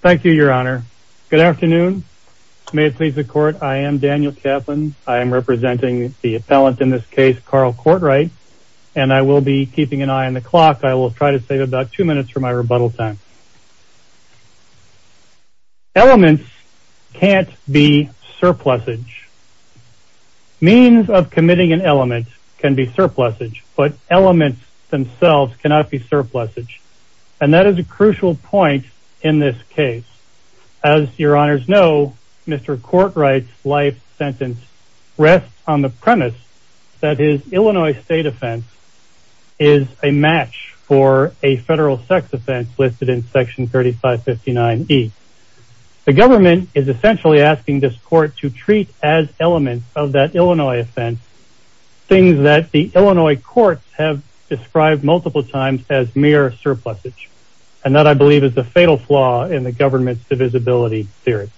Thank you, your honor. Good afternoon. May it please the court, I am Daniel Kaplan. I am representing the appellant in this case, Carl Courtright, and I will be keeping an eye on the clock. I will try to save about two minutes for my rebuttal time. Elements can't be surplusage. Means of committing an element can be surplusage, but elements themselves cannot be surplusage, and that is a crucial point in this case. As your honors know, Mr. Courtright's life sentence rests on the premise that his Illinois state offense is a match for a federal sex offense listed in section 3559 E. The government is essentially asking this court to treat as elements of that Illinois offense things that the I believe is the fatal flaw in the government's divisibility theory.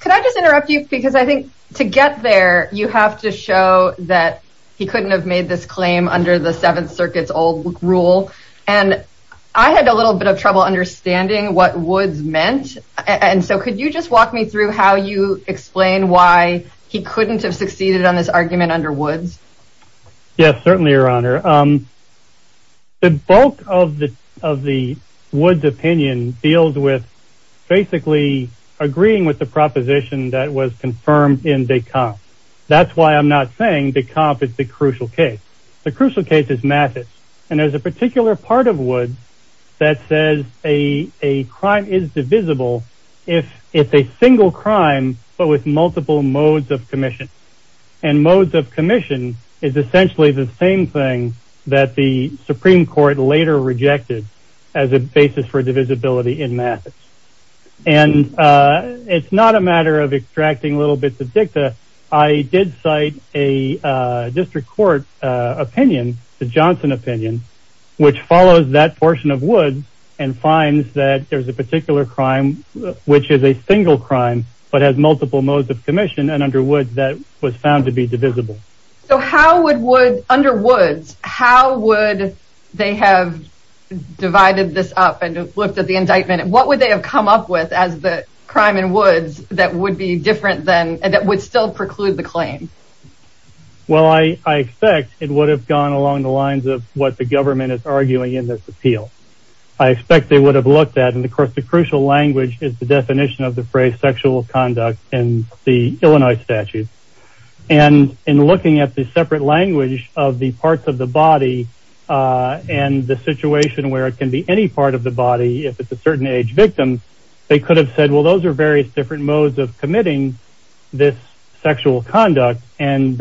Could I just interrupt you, because I think to get there, you have to show that he couldn't have made this claim under the Seventh Circuit's old rule, and I had a little bit of trouble understanding what Woods meant, and so could you just walk me through how you explain why he couldn't have succeeded on this argument under Woods? Yes, certainly, your honor. The bulk of the of the Woods opinion deals with basically agreeing with the proposition that was confirmed in de Camp. That's why I'm not saying de Camp is the crucial case. The crucial case is Mathis, and there's a particular part of Woods that says a a crime is divisible if it's a single crime, but with multiple modes of commission, and modes of commission is essentially the same thing that the Supreme Court later rejected as a basis for divisibility in Mathis, and it's not a matter of extracting a little bit of dicta. I did cite a district court opinion, the Johnson opinion, which follows that portion of Woods and finds that there's a particular crime which is a single crime, but has multiple modes of commission, and under Woods that was found to be divisible. So how would Woods, under Woods, how would they have divided this up and looked at the indictment, and what would they have come up with as the crime in Woods that would be different than, and that would still preclude the claim? Well, I expect it would have gone along the lines of what the government is arguing in this appeal. I expect they would have looked at, and of course the crucial language is the definition of the phrase sexual conduct in the Illinois statute, and in looking at the separate language of the parts of the body and the situation where it can be any part of the body, if it's a certain age victim, they could have said well those are various different modes of committing this sexual conduct, and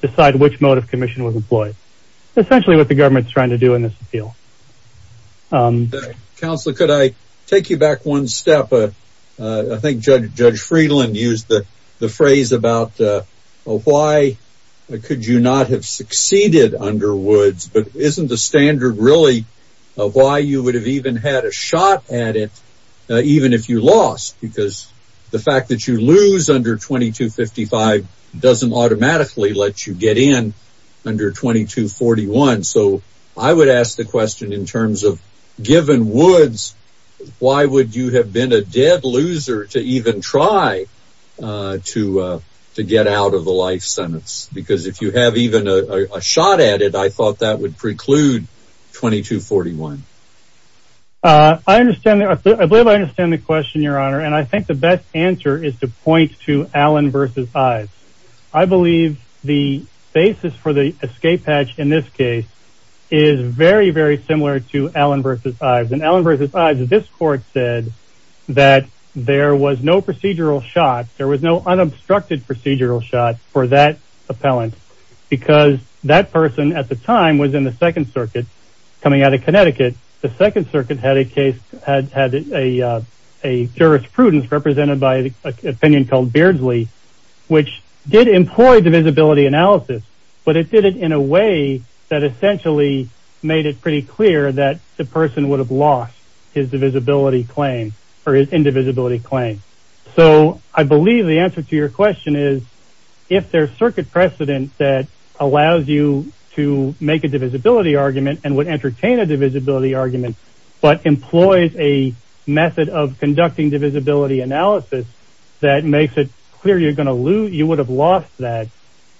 decide which mode of commission was employed. Essentially what the government is trying to do in this appeal. Counselor, could I take you back one step? I think Judge Friedland used the phrase about why could you not have succeeded under Woods, but isn't the standard really of why you would have even had a shot at it even if you lost, because the fact that you lose under 2255 doesn't automatically let you get in under 2241, so I would ask the question in terms of given Woods, why would you have been a dead loser to even try to to get out of the life sentence? Because if you have even a shot at it, I thought that would preclude 2241. I understand, I believe I understand the question your honor, and I believe the basis for the escape hatch in this case is very very similar to Allen versus Ives, and Allen versus Ives, this court said that there was no procedural shot, there was no unobstructed procedural shot for that appellant, because that person at the time was in the Second Circuit coming out of Connecticut, the Second Circuit had a case, had a jurisprudence represented by an opinion called Beardsley, which did employ divisibility analysis, but it did it in a way that essentially made it pretty clear that the person would have lost his divisibility claim or his indivisibility claim, so I believe the answer to your question is if there's circuit precedent that allows you to make a divisibility argument and would entertain a conducting divisibility analysis that makes it clear you're gonna lose, you would have lost that,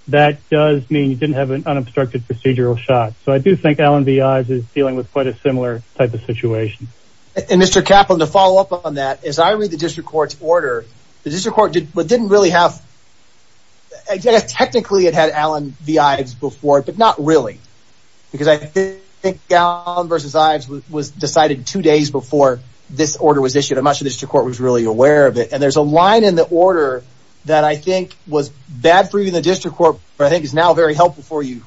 that does mean you didn't have an unobstructed procedural shot, so I do think Allen v. Ives is dealing with quite a similar type of situation. And Mr. Kaplan, to follow up on that, as I read the district court's order, the district court didn't really have, technically it had Allen v. Ives before, but not really, because I think Allen versus Ives was decided two days before this order was issued, and much of the district court was really aware of it, and there's a line in the order that I think was bad for you in the district court, but I think is now very helpful for you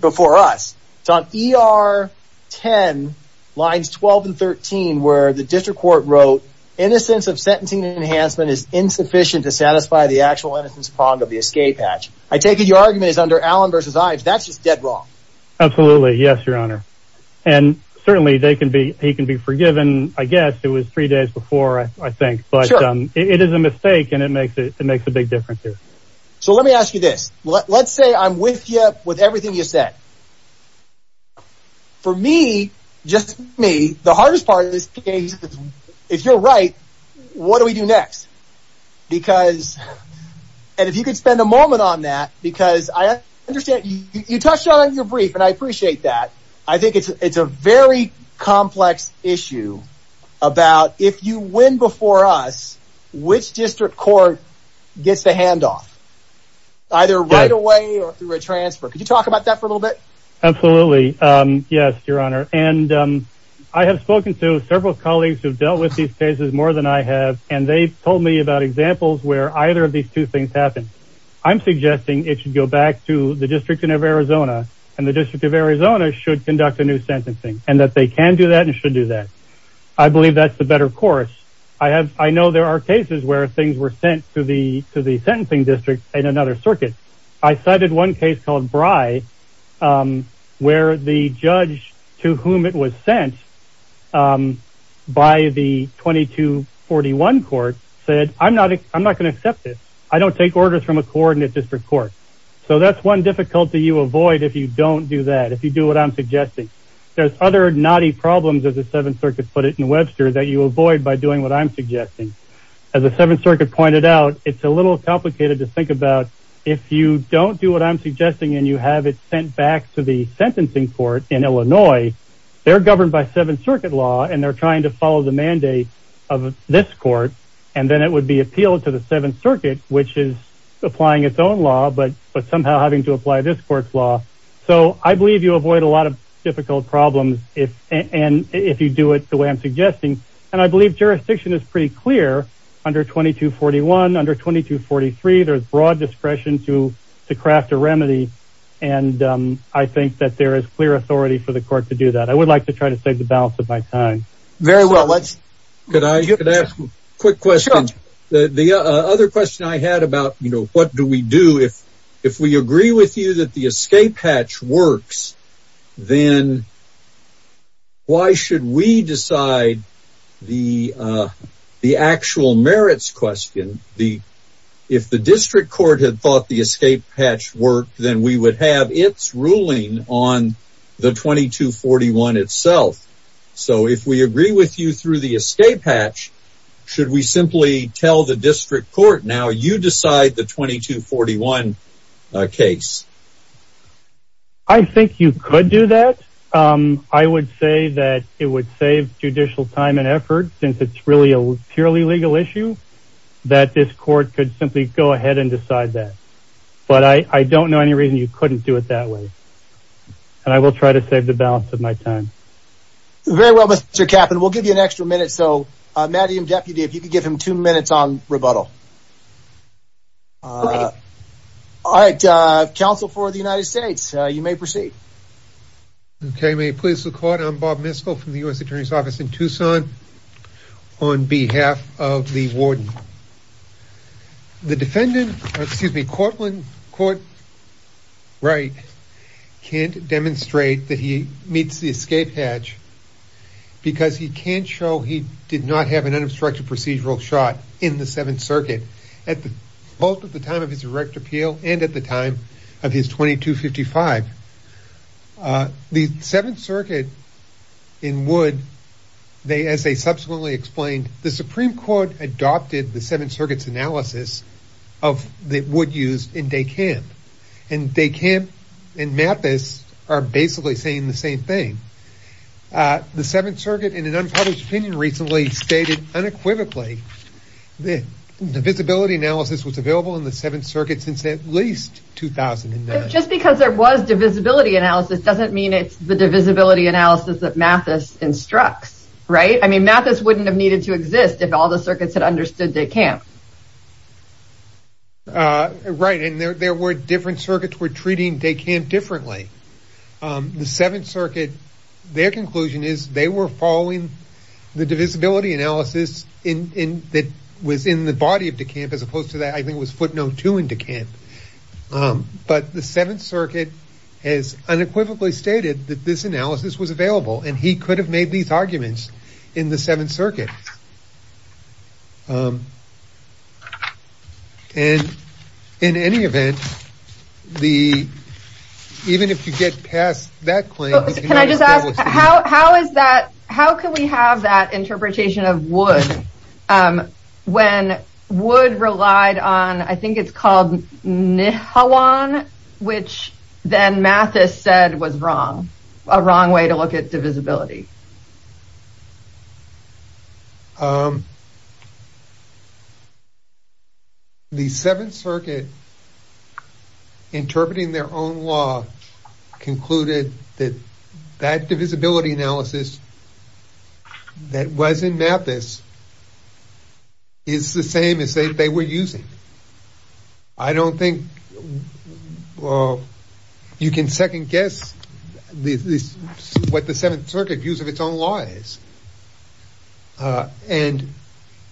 before us. It's on ER 10, lines 12 and 13, where the district court wrote, innocence of sentencing enhancement is insufficient to satisfy the actual innocence prong of the escape hatch. I take it your argument is under Allen versus Ives, that's just dead wrong. Absolutely, yes, your honor, and certainly they can be, he can be forgiven, I guess, it was three days before, I think, but it is a mistake, and it makes a big difference here. So let me ask you this, let's say I'm with you with everything you said. For me, just me, the hardest part of this case, if you're right, what do we do next? Because, and if you could spend a moment on that, because I understand, you touched on it in your very complex issue about if you win before us, which district court gets the handoff? Either right away or through a transfer. Could you talk about that for a little bit? Absolutely, yes, your honor, and I have spoken to several colleagues who've dealt with these cases more than I have, and they've told me about examples where either of these two things happen. I'm suggesting it should go back to the District of Arizona, and the District of Arizona should conduct a sentencing, and that they can do that and should do that. I believe that's the better course. I have, I know there are cases where things were sent to the, to the sentencing district in another circuit. I cited one case called Bry, where the judge to whom it was sent by the 2241 court said, I'm not, I'm not going to accept this. I don't take orders from a coordinate district court. So that's one difficulty you avoid if you don't do that, if you do what I'm suggesting. There's other knotty problems, as the Seventh Circuit put it in Webster, that you avoid by doing what I'm suggesting. As the Seventh Circuit pointed out, it's a little complicated to think about if you don't do what I'm suggesting, and you have it sent back to the sentencing court in Illinois, they're governed by Seventh Circuit law, and they're trying to follow the mandate of this court, and then it would be appealed to the Seventh Circuit, which is applying its own law, but, but somehow having to apply this court's law. So I believe you avoid a lot of difficult problems if, and if you do it the way I'm suggesting, and I believe jurisdiction is pretty clear under 2241, under 2243, there's broad discretion to to craft a remedy, and I think that there is clear authority for the court to do that. I would like to try to save the balance of my time. Very well, let's... Could I ask a quick question? The other question I had about, you know, what do we do if, if we agree with you that the escape hatch works, then why should we decide the, the actual merits question? The, if the district court had thought the escape hatch worked, then we would have its ruling on the 2241 itself. So if we agree with you through the escape hatch, should we simply tell the district court, now you decide the 2241 case? I think you could do that. I would say that it would save judicial time and effort, since it's really a purely legal issue, that this court could simply go ahead and decide that. But I, I don't know any reason you couldn't do it that way, and I will try to save the balance of my time. Very well, Mr. Kappen, we'll give you an extra minute. So, Matthew, Deputy, if you could give him two minutes on rebuttal. All right, Council for the United States, you may proceed. Okay, may it please the court, I'm Bob Miskell from the U.S. Attorney's Office in Tucson, on behalf of the warden. The defendant, excuse me, Courtland, Court Wright, can't demonstrate that he meets the escape hatch, because he can't show he did not have an unobstructed procedural shot in the Seventh Circuit, at the, both at the time of his direct appeal, and at the time of his 2255. The Seventh Circuit in Wood, they, as they subsequently explained, the Supreme Court adopted the Seventh Circuit's analysis of the wood used in Day Camp, and Day Camp and Mappis are basically saying the same thing. The Seventh Circuit, in an unpublished opinion recently, stated unequivocally that divisibility analysis was available in the Seventh Circuit since at least 2009. Just because there was divisibility analysis doesn't mean it's the divisibility analysis that Mappis instructs, right? I mean, Mappis wouldn't have needed to exist if all the circuits had understood Day Camp. Right, and there were different circuits were treating Day Camp differently. The Seventh Circuit, their conclusion is they were following the divisibility analysis in, in, that was in the body of Day Camp, as opposed to that I think was footnote two in Day Camp. But the Seventh Circuit has unequivocally stated that this analysis was available, and he could have made these arguments in the Seventh Circuit. And in any event, the, even if you get past that claim, can I just ask, how is that? How can we have that interpretation of wood? When wood relied on I think it's called Nihawan, which then Mappis said was wrong, a wrong way to look at divisibility. The Seventh Circuit interpreting their own law concluded that that divisibility analysis that was in Mappis is the same as they were using. I don't think you can second guess what the Seventh Circuit views of its own law is. And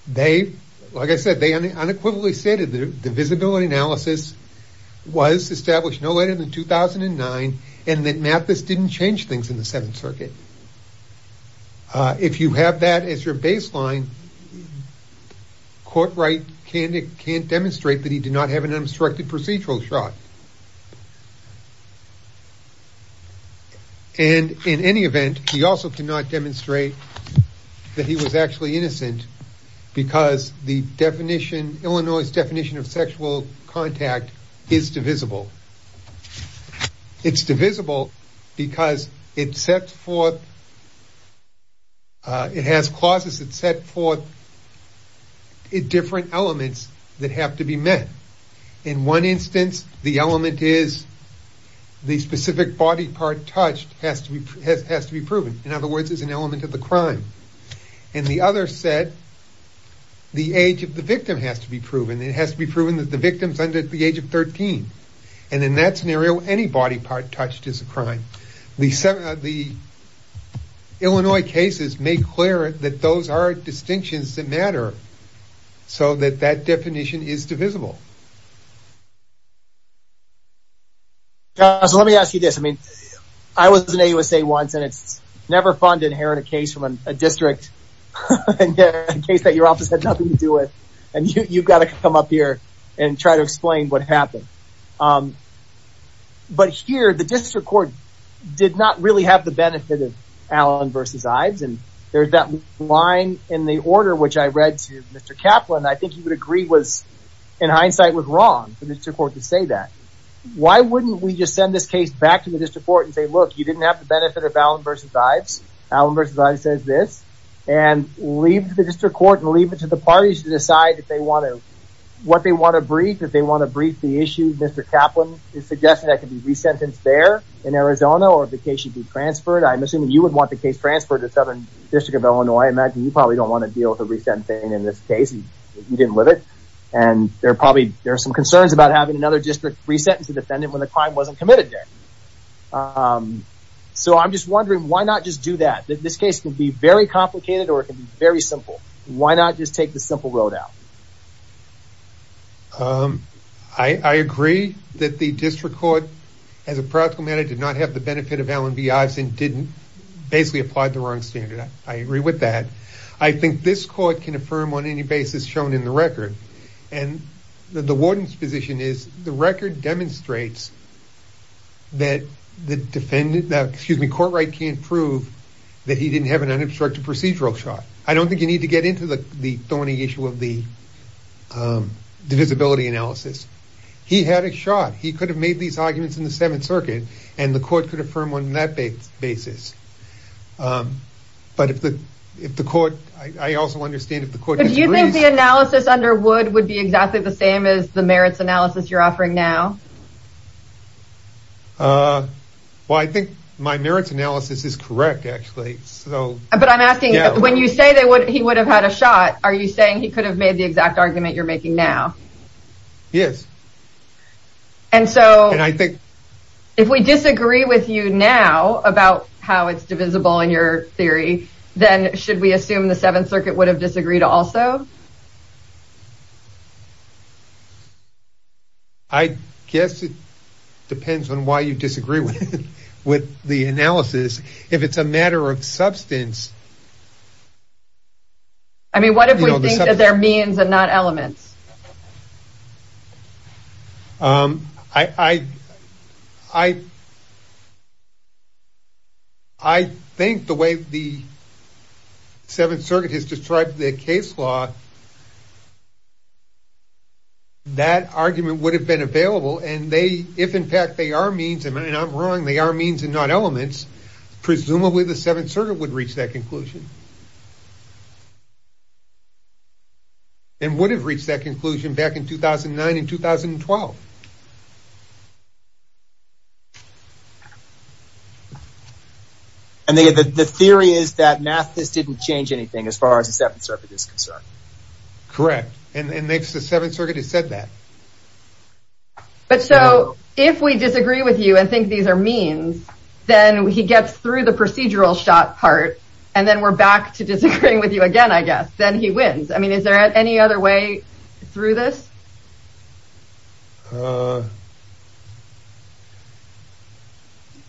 they, like I said, they unequivocally stated that divisibility analysis was established no later than 2009, and that Mappis didn't change things in the Seventh Circuit. If you have that as your baseline, court right candidate can't demonstrate that he did not have an unobstructed procedural shot. And in any event, he also cannot demonstrate that he was actually innocent, because the definition, Illinois' definition of sexual contact is divisible. It's divisible because it sets forth, it has clauses that set forth different elements that have to be met. In one instance, the element is the specific body part touched has to be proven. In other words, it's an element of the crime. And the other set, the age of the victim has to be proven. It has to be proven that the victim's under the age of 13. And in that scenario, any body part touched is a crime. The Illinois cases make clear that those are distinctions that matter. So that that definition is divisible. So let me ask you this. I mean, I was in a USA once and it's never fun to inherit a case from a district case that your office had nothing to do with. And you've got to come up here and try to explain what happened. But here, the district court did not really have the benefit of Allen versus Ives. And there's that line in the order, which I read to Mr. Kaplan, I think he would agree was, in hindsight, was wrong for the court to say that. Why wouldn't we just send this case back to the district court and say, look, you didn't have the benefit of Allen versus Ives, Allen versus Ives says this, and leave the district court and leave it to the parties to decide if they want to, what they want to brief if they want to brief the issue. Mr. Kaplan is suggesting that could be resentenced there in Arizona or the case should be transferred. I'm assuming you would want the case transferred to Southern District of Illinois. I imagine you probably don't want to deal with a resentencing in this case. You didn't live it. And there are probably there are some concerns about having another district resentencing defendant when the crime wasn't committed there. So I'm just wondering, why not just do that? This case can be very complicated or it can be very simple. Why not just take the simple road out? I agree that the district court, as a practical matter, did not have the basis, basically applied the wrong standard. I agree with that. I think this court can affirm on any basis shown in the record. And the warden's position is the record demonstrates that the defendant, excuse me, court right can't prove that he didn't have an unobstructed procedural shot. I don't think you need to get into the thorny issue of the divisibility analysis. He had a shot. He could have made these arguments in the Seventh Circuit and the but if the if the court, I also understand if the court, do you think the analysis under wood would be exactly the same as the merits analysis you're offering now? Well, I think my merits analysis is correct, actually. So but I'm asking when you say they would, he would have had a shot. Are you saying he could have made the exact argument you're making now? Yes. And so I think if we disagree with you now about how it's divisible in your theory, then should we assume the Seventh Circuit would have disagreed also? I guess it depends on why you disagree with the analysis. If it's a matter of substance. I mean, what if we think that there are means and not elements? I think the way the Seventh Circuit has described the case law, that argument would have been available and they, if in fact they are means, and I'm wrong, they are means and not elements, presumably the Seventh Circuit would reach that conclusion. And would have reached that conclusion back in 2009 and 2012. And the theory is that Mathis didn't change anything as far as the Seventh Circuit is concerned. Correct. And makes the Seventh Circuit has said that. But so if we disagree with you and think these are means, then he gets through the procedural shot part. And then we're back to disagreeing with you again, I guess. Then he wins. I mean, is there any other way through this?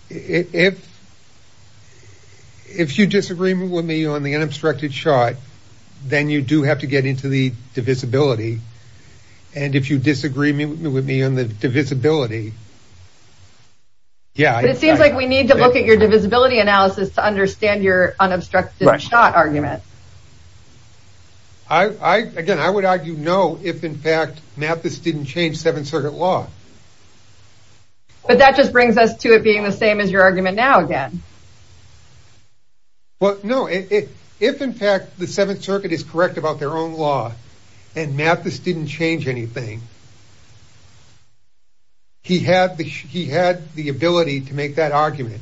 If you disagree with me on the unobstructed shot, then you do have to get into the divisibility. And if you disagree with me on the divisibility. Yeah, it seems like we need to look at your divisibility analysis to understand your unobstructed shot argument. Again, I would argue no, if in fact Mathis didn't change Seventh Circuit law. But that just brings us to it being the same as your argument now again. Well, no, if in fact the Seventh Circuit is correct about their own law and Mathis didn't change anything. He had the he had the ability to make that argument.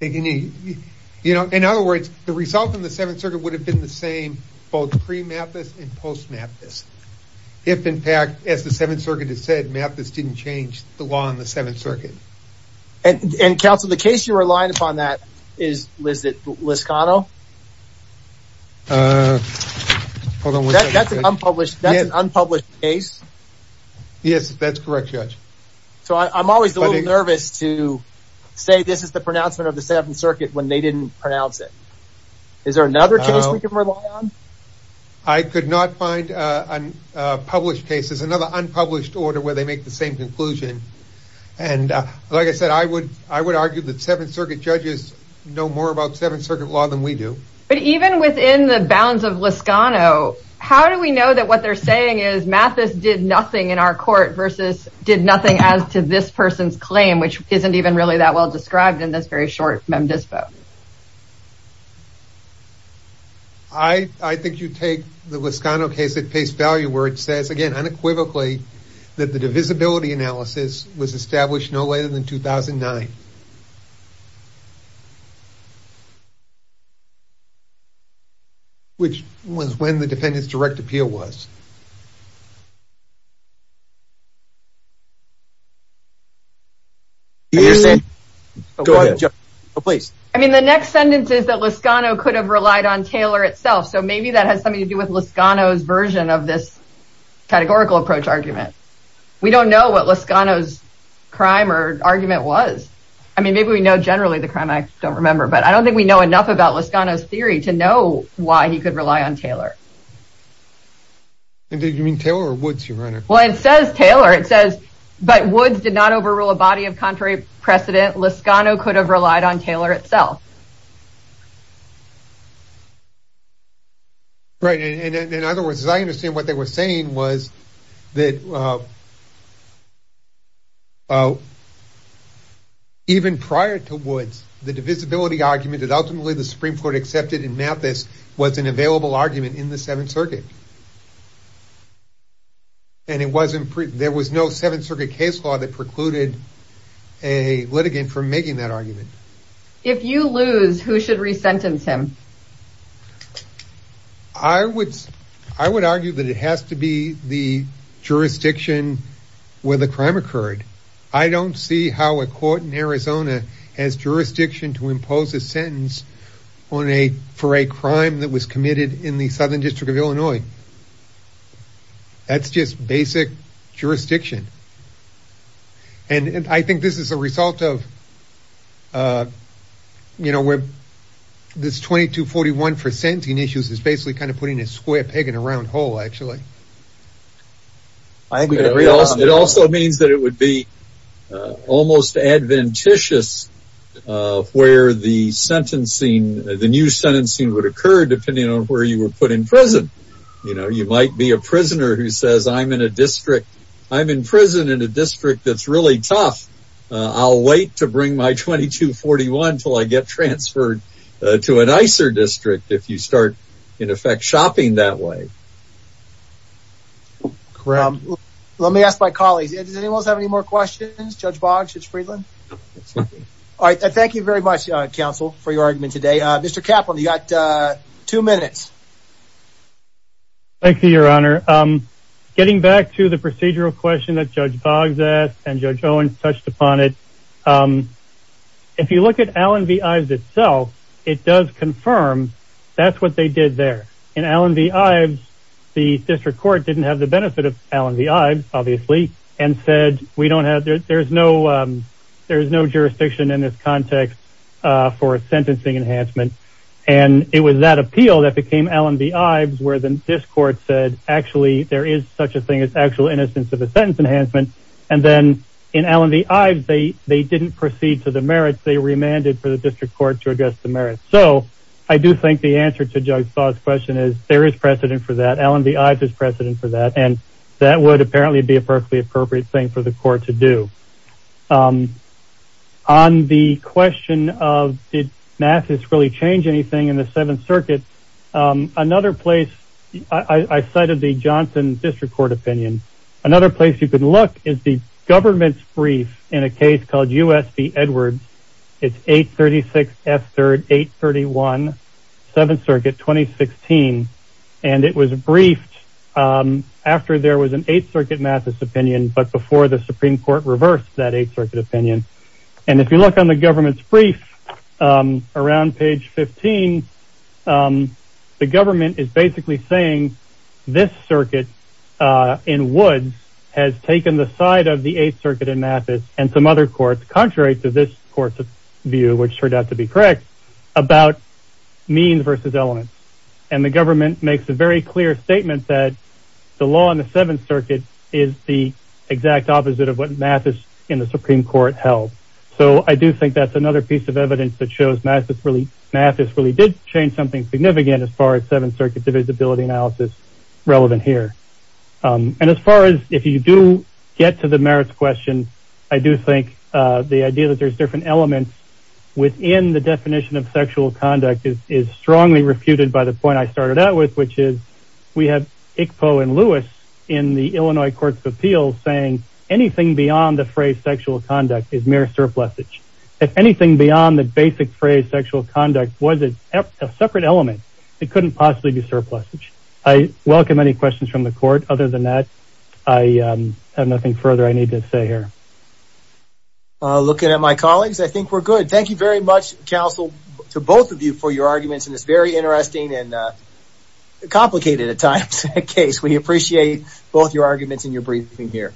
You know, in other words, the result in the Seventh Circuit would have been the same both pre-Mathis and post-Mathis. If in fact, as the Seventh Circuit has said, Mathis didn't change the law in the unpublished case. Yes, that's correct, Judge. So I'm always nervous to say this is the pronouncement of the Seventh Circuit when they didn't pronounce it. Is there another case we can rely on? I could not find published cases, another unpublished order where they make the same conclusion. And like I said, I would I would argue that Seventh Circuit judges know more about Seventh Circuit law than we do. But even within the bounds of Liscano, how do we know that what they're saying is Mathis did nothing in our court versus did nothing as to this person's claim, which isn't even really that well described in this very short mem dispo? I think you take the Liscano case at pace value where it says again unequivocally that the divisibility analysis was established no later than which was when the defendant's direct appeal was. Go ahead, please. I mean, the next sentence is that Liscano could have relied on Taylor itself. So maybe that has something to do with Liscano's version of this categorical approach argument. We don't know what Liscano's crime or argument was. I mean, maybe we know generally the crime. I don't remember. But I don't think we know enough about Liscano's theory to know why he could rely on Taylor. And did you mean Taylor or Woods, your Honor? Well, it says Taylor, it says. But Woods did not overrule a body of contrary precedent. Liscano could have relied on Taylor itself. Right. And in other words, I understand what they were saying was that. Oh. Even prior to Woods, the divisibility argument that ultimately the Supreme Court accepted in Mathis was an available argument in the Seventh Circuit. And it wasn't there was no Seventh Circuit case law that precluded a litigant from making that argument. If you lose, who should resentence him? I would I would argue that it has to be the jurisdiction where the crime occurred. I don't see how a court in Illinois would impose a sentence on a for a crime that was committed in the Southern District of Illinois. That's just basic jurisdiction. And I think this is a result of, you know, where this 2241 for sentencing issues is basically kind of putting a square peg in a round hole, actually. I agree. It also means that it would be almost adventitious where the sentencing, the new sentencing would occur depending on where you were put in prison. You know, you might be a prisoner who says, I'm in a district, I'm in prison in a district that's really tough. I'll wait to bring my 2241 until I get transferred to a nicer district. If you start, in effect, shopping that way. Let me ask my colleagues. Does anyone have any more questions? Judge Boggs, Judge Friedland. All right. Thank you very much, counsel, for your argument today. Mr. Kaplan, you got two minutes. Thank you, Your Honor. Getting back to the procedural question that Judge Boggs asked and Judge Owens touched upon it. If you look at Allen v. Ives itself, it does confirm that's what they did there. In Allen v. Ives, the district court didn't have the benefit of Allen v. Ives, obviously, and said there's no jurisdiction in this context for a sentencing enhancement. And it was that appeal that became Allen v. Ives where this court said, actually, there is such a thing as actual innocence of a sentence enhancement. And then in Allen v. Ives, they didn't proceed to the merits. They remanded for the district court to address the merits. So I do think the answer to Judge Boggs' question is there is precedent for that. Allen v. Ives is precedent for that. And that would apparently be a perfectly appropriate thing for the court to do. On the question of did Mathis really change anything in the Seventh Circuit, another place I cited the Johnson district court opinion. Another place you could look is the government's brief in a case called U.S. v. Edwards. It's 836 F. 3rd, 831 Seventh Circuit, 2016. And it was briefed after there was an Eighth Circuit Mathis opinion, but before the Supreme Court reversed that Eighth Circuit opinion. And if you look on the government's brief around page 15, the government is basically saying this circuit in Woods has taken the side of the Eighth Circuit in Mathis and some other courts, contrary to this court's view, which turned out to be correct, about means versus elements. And the government makes a very clear statement that the law in the Seventh Circuit is the exact opposite of what Mathis in the Supreme Court held. So I do think that's another piece of evidence that shows Mathis really did change something significant as far as Seventh Circuit divisibility analysis relevant here. And as far as if you do get to the merits question, I do think the idea that there's different elements within the definition of sexual conduct is strongly refuted by the point I started out with, which is we have ICPO and Lewis in the Illinois Courts of Appeals saying anything beyond the phrase sexual conduct is mere surplusage. If anything beyond the basic phrase sexual conduct was a separate element, it couldn't possibly be surplusage. I welcome any questions from the court. Other than that, I have nothing further I need to say here. Looking at my colleagues, I think we're good. Thank you very much, counsel, to both of you for your arguments in this very interesting and complicated at times case. We appreciate both your arguments and your briefing here.